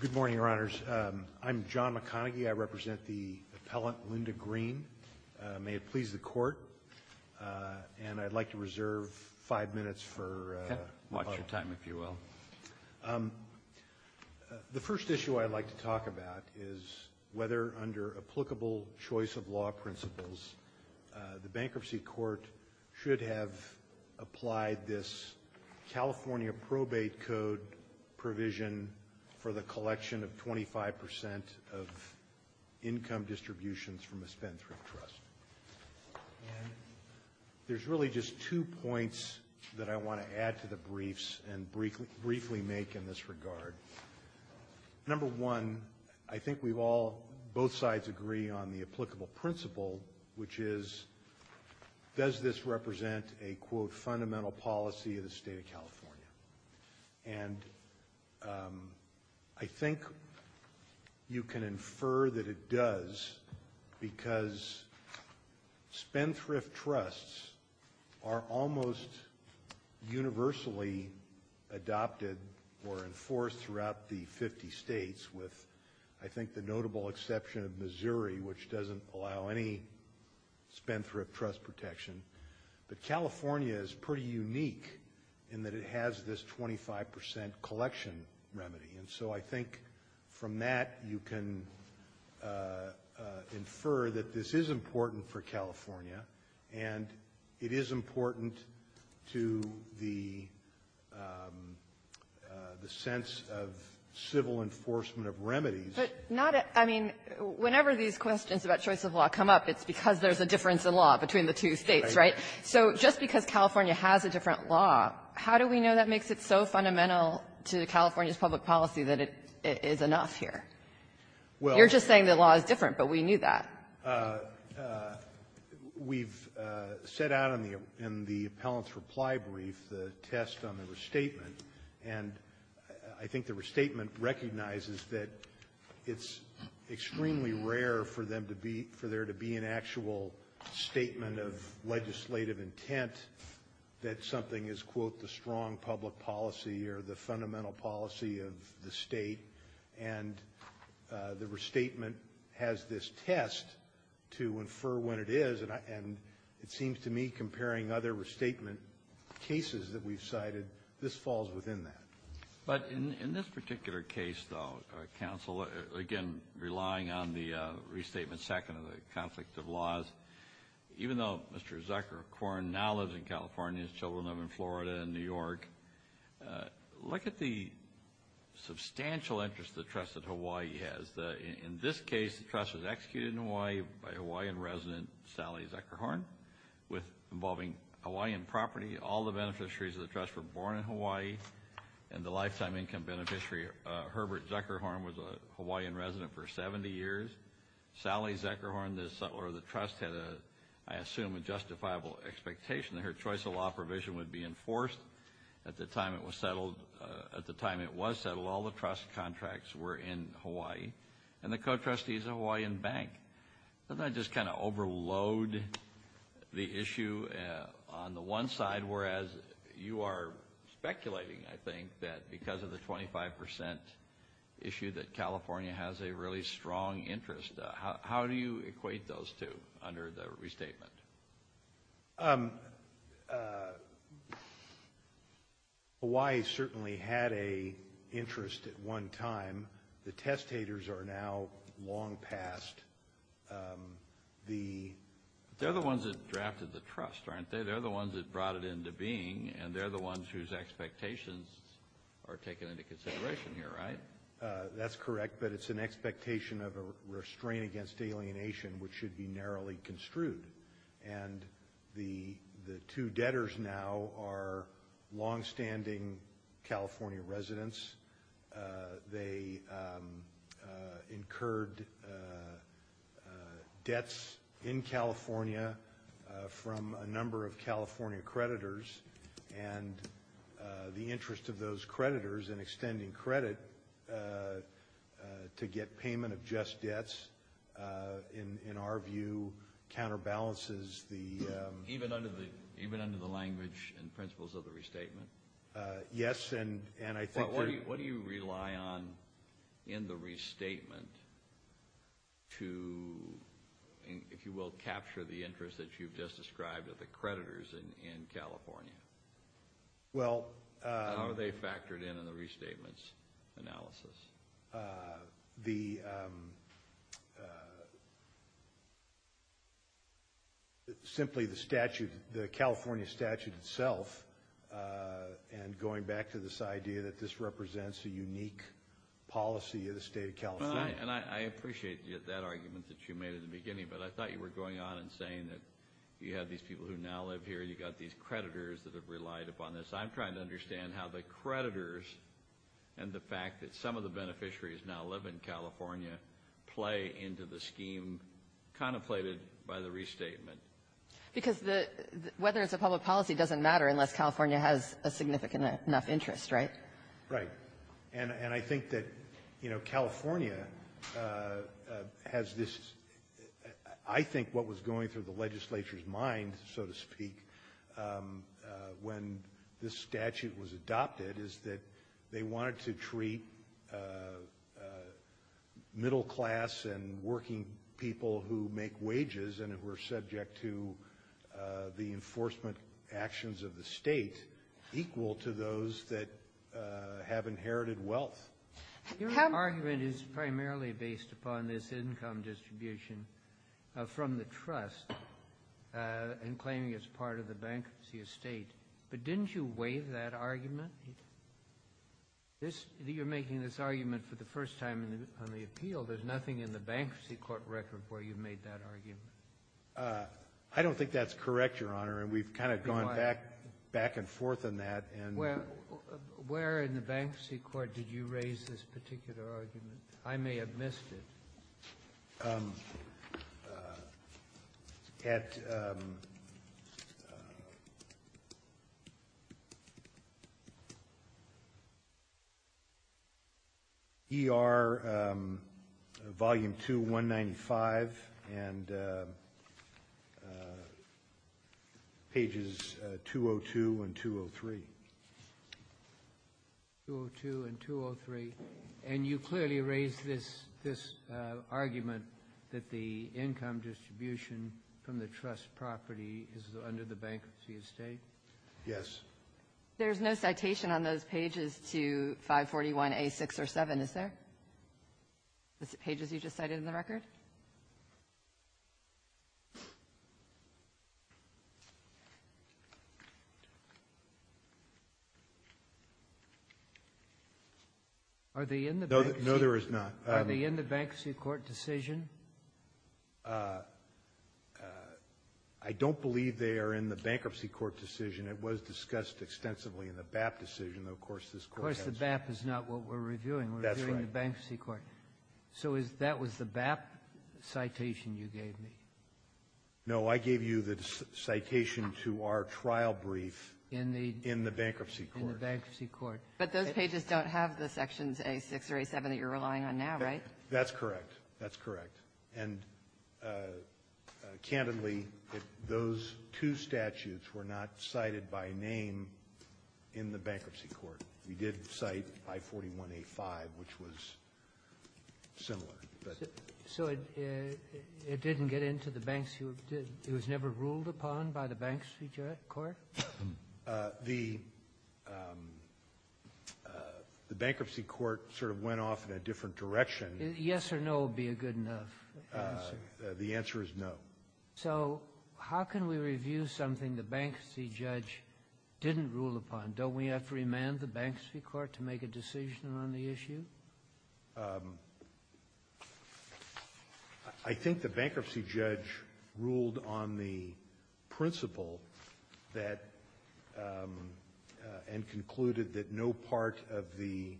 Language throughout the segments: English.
Good morning, Your Honors. I'm John McConaghy. I represent the appellant, Linda Green. May it please the Court. And I'd like to reserve five minutes for... Watch your time, if you will. The first issue I'd like to talk about is whether, under applicable choice of law principles, the bankruptcy court should have applied this California probate code provision for the collection of 25% of income distributions from a spendthrift trust. And there's really just two points that I want to add to the briefs and briefly make in this regard. Number one, I think we've all, both sides agree on the applicable principle, which is that does this represent a, quote, fundamental policy of the state of California? And I think you can infer that it does because spendthrift trusts are almost universally adopted or enforced throughout the 50 states, with, I think, the spendthrift trust protection. But California is pretty unique in that it has this 25% collection remedy. And so I think from that, you can infer that this is important for California, and it is important to the sense of civil enforcement of remedies. But not a — I mean, whenever these questions about choice of law come up, it's because there's a difference in law between the two States, right? So just because California has a different law, how do we know that makes it so fundamental to California's public policy that it is enough here? You're just saying the law is different, but we knew that. We've set out in the appellant's reply brief the test on the restatement, and I think the restatement recognizes that it's extremely rare for them to be — for there to be an actual statement of legislative intent that something is, quote, the strong public policy or the fundamental policy of the State. And the restatement has this test to infer when it is, and I — and it seems to me, comparing other restatement cases that we've cited, this falls within that. But in this particular case, though, Counsel, again, relying on the restatement second of the conflict of laws, even though Mr. Zuckerhorn now lives in California, his children live in Florida and New York, look at the substantial interest the trust at Hawaii has. In this case, the trust was executed in Hawaii by Hawaiian resident Sally Zuckerhorn with — involving Hawaiian property. All the beneficiaries of the trust were born in Hawaii, and the lifetime income beneficiary, Herbert Zuckerhorn, was a Hawaiian resident for 70 years. Sally Zuckerhorn, the settler of the trust, had a — I assume a justifiable expectation that her choice of law provision would be enforced. At the time it was settled, all the trust contracts were in Hawaii, and the co-trustees are a Hawaiian bank. Doesn't that just kind of overload the issue on the one side, whereas you are speculating, I think, that because of the 25 percent issue that California has a really strong interest? How do you equate those two under the restatement? Hawaii certainly had an interest at one time. The testators are now long past the — They're the ones that drafted the trust, aren't they? They're the ones that brought it into being, and they're the ones whose expectations are taken into consideration here, right? That's correct, but it's an expectation of a restraint against alienation, which should be narrowly construed. And the two debtors now are longstanding California residents. They incurred debts in California from a number of California creditors, and the interest of those creditors in extending credit to get payment of just debts, in our view, counterbalances the — Even under the language and principles of the restatement? Yes, and I think — What do you rely on in the restatement to, if you will, capture the interest that you've just described of the creditors in California? How are they factored in in the restatement's analysis? The — Simply the statute, the California statute itself, and going back to this idea that this represents a unique policy of the state of California. Well, and I appreciate that argument that you made at the beginning, but I thought you were going on and saying that you had these people who now live here, you've got these creditors that have relied upon this. I'm trying to understand how the creditors and the fact that some of the beneficiaries now live in California play into the scheme contemplated by the restatement. Because the — whether it's a public policy doesn't matter unless California has a significant enough interest, right? Right. And I think that, you know, California has this — I think what was going through the legislature's mind, so to speak, when this statute was adopted is that they wanted to treat middle-class and working people who make wages and who are subject to the enforcement actions of the state equal to those that have inherited wealth. Your argument is primarily based upon this income distribution from the trust and claiming it's part of the bankruptcy estate. But didn't you waive that argument? You're making this argument for the first time on the appeal. There's nothing in the Bankruptcy Court record where you made that argument. I don't think that's correct, Your Honor. And we've kind of gone back and forth on that. Where in the Bankruptcy Court did you raise this particular argument? I may have missed it. At ER Volume 2, 195, and pages 202 and 203. 202 and 203. And you clearly raised this argument that the income distribution from the trust property is under the bankruptcy estate? Yes. There's no citation on those pages to 541A6 or 7, is there? The pages you just cited in the record? No, there is not. Are they in the Bankruptcy Court decision? I don't believe they are in the Bankruptcy Court decision. It was discussed extensively in the BAP decision. Of course, the BAP is not what we're reviewing. We're reviewing the Bankruptcy Court. So that was the BAP citation you gave me? No. I gave you the citation to our trial brief in the Bankruptcy Court. In the Bankruptcy Court. But those pages don't have the sections A6 or A7 that you're relying on now, right? That's correct. That's correct. And candidly, those two statutes were not cited by name in the Bankruptcy Court. We did cite 541A5, which was similar. So it didn't get into the Bankruptcy Court? It was never ruled upon by the Bankruptcy Court? The Bankruptcy Court sort of went off in a different direction. Yes or no would be a good enough answer. The answer is no. So how can we review something the Bankruptcy Judge didn't rule upon? Don't we have to remand the Bankruptcy Court to make a decision on the issue? I think the Bankruptcy Judge ruled on the principle that and concluded that no part of the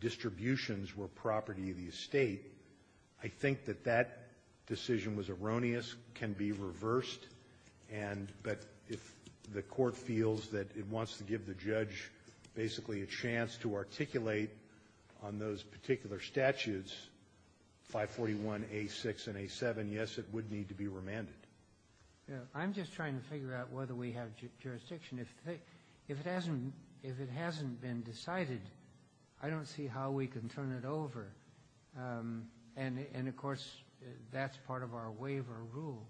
distributions were property of the estate. I think that that decision was erroneous, can be reversed, and that if the Court feels that it wants to give the judge basically a chance to articulate on those particular statutes, 541A6 and A7, yes, it would need to be remanded. I'm just trying to figure out whether we have jurisdiction. If it hasn't been decided, I don't see how we can turn it over. And, of course, that's part of our waiver rule.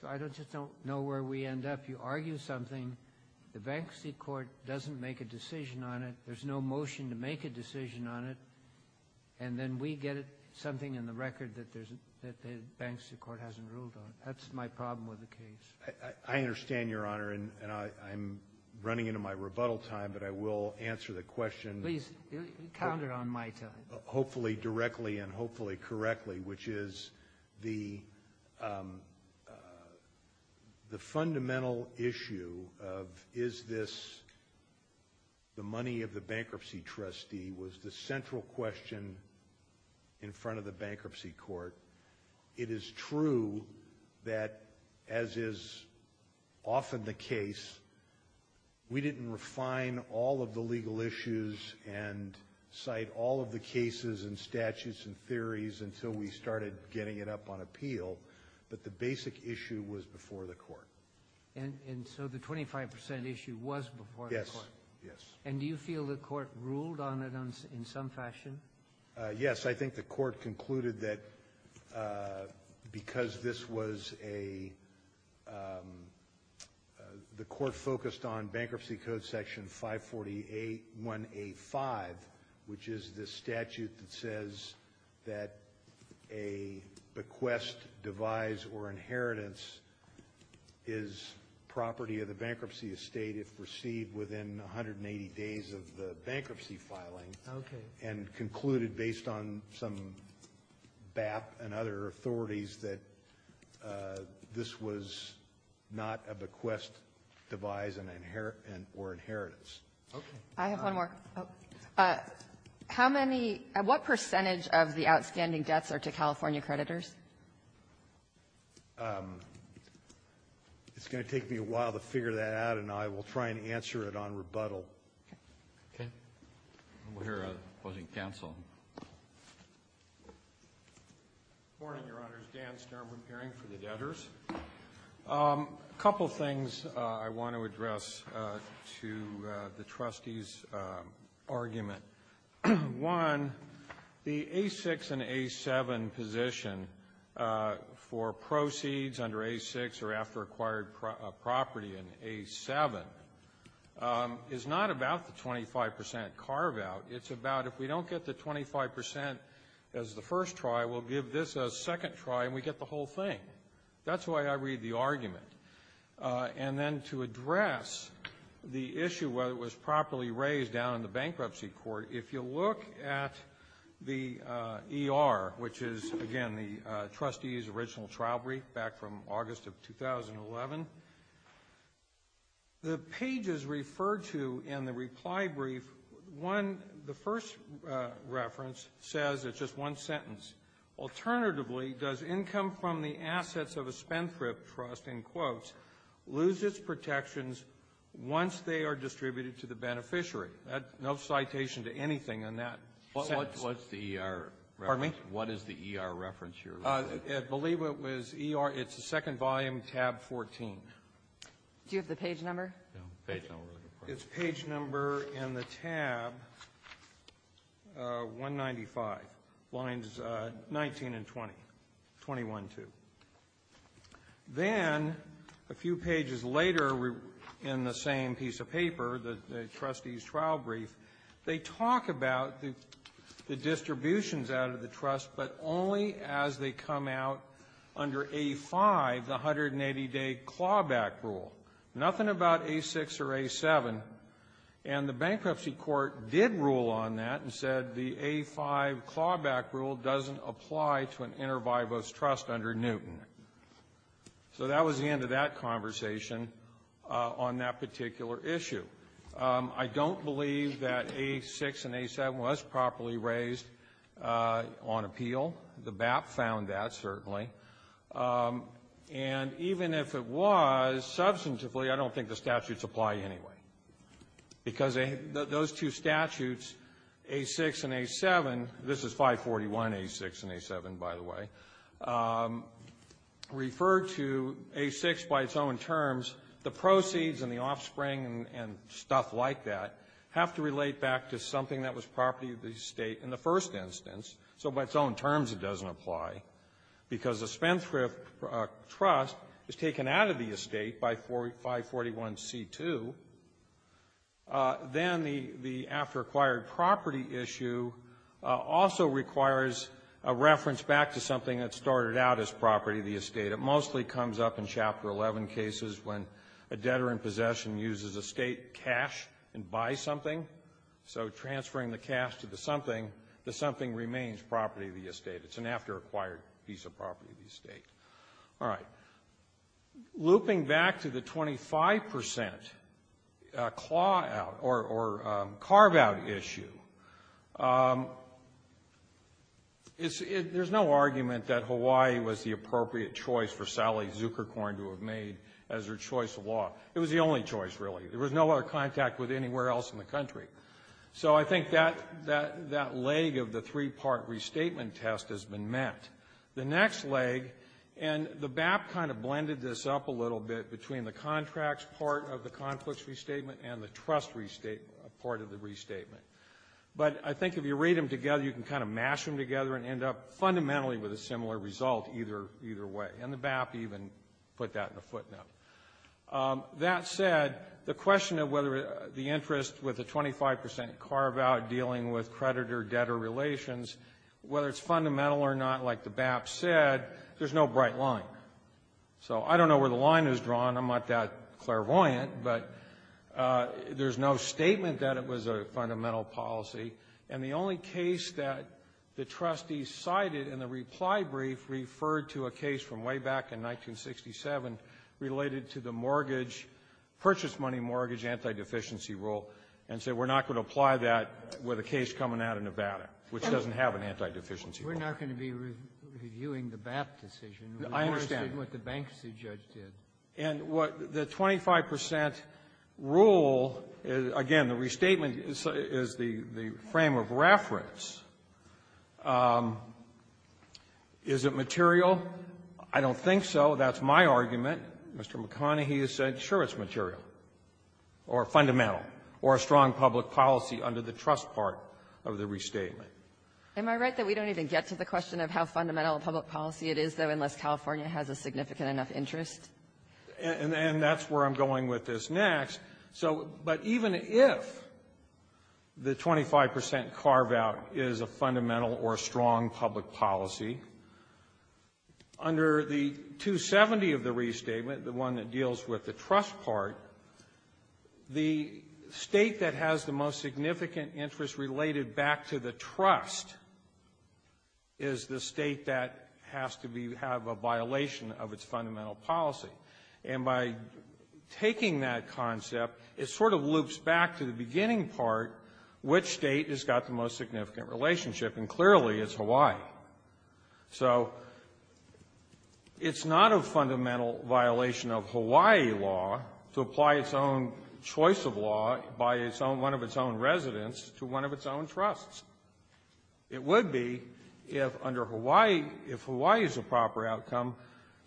So I just don't know where we end up. If you argue something, the Bankruptcy Court doesn't make a decision on it, there's no motion to make a decision on it, and then we get something in the record that the Bankruptcy Court hasn't ruled on. That's my problem with the case. I understand, Your Honor. And I'm running into my rebuttal time, but I will answer the question. Please, count it on my time. Hopefully directly and hopefully correctly, which is the fundamental issue of is this the money of the bankruptcy trustee was the central question in front of the Bankruptcy Court. It is true that, as is often the case, we didn't refine all of the legal issues and cite all of the cases and statutes and theories until we started getting it up on appeal. But the basic issue was before the Court. And so the 25 percent issue was before the Court? Yes. Yes. And do you feel the Court ruled on it in some fashion? Yes. I think the Court concluded that because this was a the Court focused on Bankruptcy Code Section 540.1A.5, which is the statute that says that a bequest, devise, or inheritance is property of the bankruptcy estate if received within 180 days of the bankruptcy filing, and concluded based on some BAP and other authorities that this was not a bequest, devise, or inheritance. Okay. I have one more. How many, what percentage of the outstanding debts are to California creditors? It's going to take me a while to figure that out, and I will try and answer it on rebuttal. Okay. Okay. We'll hear a closing counsel. Good morning, Your Honors. Dan Stern, appearing for the debtors. A couple things I want to address to the Trustee's argument. One, the A6 and A7 position for proceeds under A6 or after acquired property in A7 is not about the 25 percent carve-out. It's about if we don't get the 25 percent as the first try, we'll give this a second try, and we get the whole thing. That's why I read the argument. And then to address the issue, whether it was properly raised down in the bankruptcy court, if you look at the ER, which is, again, the Trustee's original trial brief back from 2011, the pages referred to in the reply brief, one, the first reference says, it's just one sentence. Alternatively, does income from the assets of a spendthrift trust, in quotes, lose its protections once they are distributed to the beneficiary? That's no citation to anything in that sentence. What's the ER reference? Pardon me? What is the ER reference you're referring to? I believe it was ER. It's the second volume, tab 14. Do you have the page number? Page number. It's page number in the tab 195, lines 19 and 20, 21-2. Then a few pages later in the same piece of paper, the Trustee's trial brief, they talk about the distributions out of the trust, but only as they come out under A-5, the 180-day clawback rule. Nothing about A-6 or A-7. And the bankruptcy court did rule on that and said the A-5 clawback rule doesn't apply to an inter vivos trust under Newton. So that was the end of that conversation on that particular issue. I don't believe that A-6 and A-7 was properly raised on appeal. The BAP found that, certainly. And even if it was, substantively, I don't think the statutes apply anyway, because those two statutes, A-6 and A-7, this is 541, A-6 and A-7, by the way, refer to A-6 by its own terms. The proceeds and the offspring and stuff like that have to relate back to something that was property of the estate in the first instance. So by its own terms, it doesn't apply, because the Spendthrift trust is taken out of the estate by 541C-2. Then the after-acquired property issue also requires a reference back to something that started out as property of the estate. It mostly comes up in Chapter 11 cases when a debtor in possession uses estate cash and buys something. So transferring the cash to the something, the something remains property of the estate. It's an after-acquired piece of property of the estate. All right. Looping back to the 25 percent claw-out or carve-out issue, there's no argument that Hawaii was the appropriate choice for Sally Zukerkorn to have made as her choice of law. It was the only choice, really. There was no other contact with anywhere else in the country. So I think that leg of the three-part restatement test has been met. The next leg, and the BAP kind of blended this up a little bit between the contracts part of the conflicts restatement and the trust part of the restatement. But I think if you read them together, you can kind of mash them together and end up fundamentally with a similar result either way. And the BAP even put that in a footnote. That said, the question of whether the interest with the 25 percent carve-out dealing with creditor-debtor relations, whether it's fundamental or not, like the BAP said, there's no bright line. So I don't know where the line is drawn. I'm not that clairvoyant. But there's no statement that it was a fundamental policy. And the only case that the trustees cited in the reply brief referred to a case from way back in 1967 related to the mortgage, purchase money mortgage, anti-deficiency rule, and said we're not going to apply that with a case coming out of Nevada, which doesn't have an anti-deficiency rule. We're not going to be reviewing the BAP decision. I understand. We're interested in what the bankruptcy judge did. And what the 25 percent rule is, again, the restatement is the frame of reference. Is it material? I don't think so. That's my argument. Mr. McConney, he has said, sure, it's material or fundamental or a strong public policy under the trust part of the restatement. Am I right that we don't even get to the question of how fundamental a public policy it is, though, unless California has a significant enough interest? And that's where I'm going with this next. So but even if the 25 percent carve-out is a fundamental or a strong public policy, under the 270 of the restatement, the one that deals with the trust part, the State that has the most significant interest related back to the trust is the State that has to be have a violation of its fundamental policy. And by taking that concept, it sort of loops back to the beginning part, which State has got the most significant relationship, and clearly it's Hawaii. So it's not a fundamental violation of Hawaii law to apply its own choice of law by its own one of its own residents to one of its own trusts. It would be, if under Hawaii, if Hawaii is a proper outcome,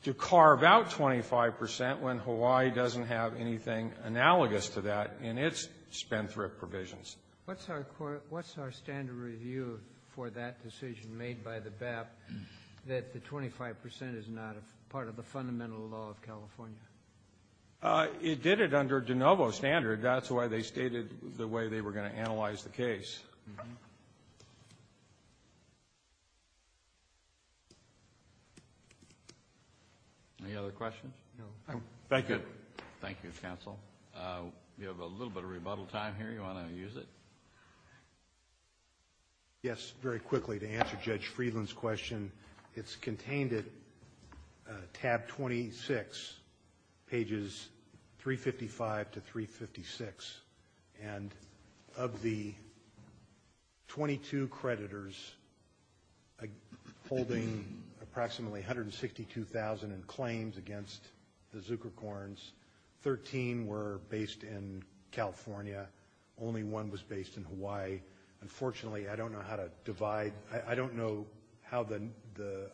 to carve out 25 percent when Hawaii doesn't have anything analogous to that in its spendthrift provisions. What's our standard review for that decision made by the BAP that the 25 percent is not a part of the fundamental law of California? It did it under de novo standard. That's why they stated the way they were going to analyze the case. Any other questions? No. Thank you. Thank you, counsel. We have a little bit of rebuttal time here. You want to use it? Yes, very quickly, to answer Judge Friedland's question. It's contained at tab 26, pages 355 to 356. And of the 22 creditors holding approximately 162,000 in claims against the Zuckercorns, 13 were based in California. Only one was based in Hawaii. Unfortunately, I don't know how to divide. I don't know how the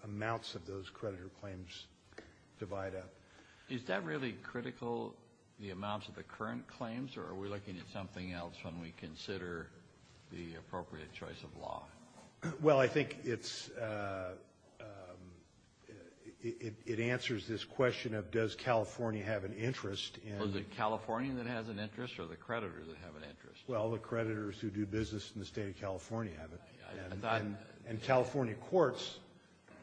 amounts of those creditor claims divide up. Is that really critical, the amounts of the current claims? Or are we looking at something else when we consider the appropriate choice of law? Well, I think it answers this question of, does California have an interest? Was it California that has an interest, or the creditors that have an interest? Well, the creditors who do business in the state of California have it. And California courts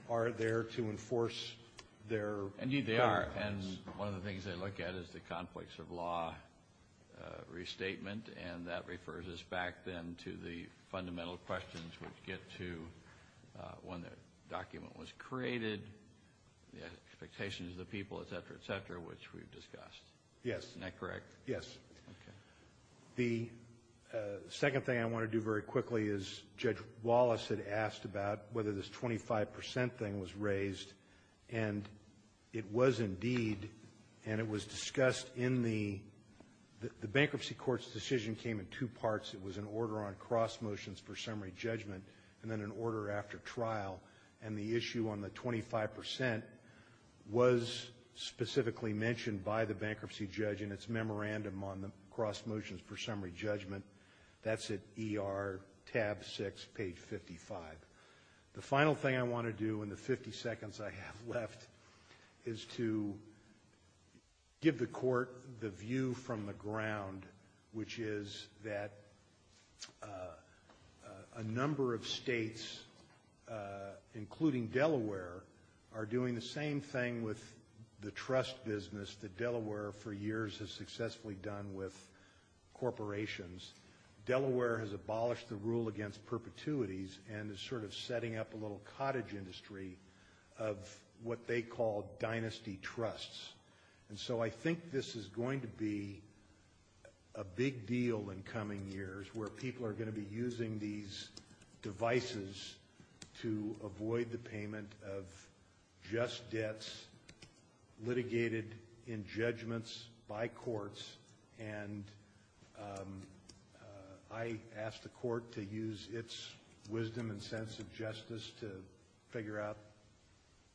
are there to enforce their requirements. Indeed, they are. And one of the things they look at is the conflicts of law restatement. And that refers us back, then, to the fundamental questions which get to when the document was created, the expectations of the people, et cetera, et cetera, which we've discussed. Yes. Isn't that correct? Yes. The second thing I want to do very quickly is, Judge Wallace had asked about whether this 25% thing was raised. And it was indeed, and it was discussed in the — the bankruptcy court's decision came in two parts. It was an order on cross motions for summary judgment, and then an order after trial. And the issue on the 25% was specifically mentioned by the bankruptcy judge in its memorandum on the cross motions for summary judgment. That's at ER tab 6, page 55. The final thing I want to do in the 50 seconds I have left is to give the court the view from the ground, which is that a number of states, including Delaware, are doing the same thing with the trust business that Delaware, for years, has successfully done with corporations. Delaware has abolished the rule against perpetuities and is sort of setting up a little cottage industry of what they call dynasty trusts. And so I think this is going to be a big deal in coming years, where people are going to be using these devices to avoid the payment of just debts litigated in judgments by courts. And I ask the court to use its wisdom and sense of justice to figure out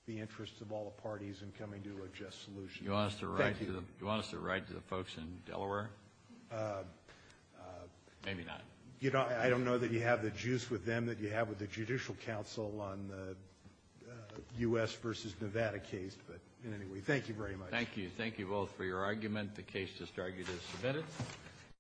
the interests of all the parties in coming to a just solution. Thank you. You want us to write to the folks in Delaware? Maybe not. You know, I don't know that you have the juice with them that you have with the Judicial Council on the U.S. v. Nevada case, but anyway, thank you very much. Thank you. Thank you both for your argument. The case is argued as submitted.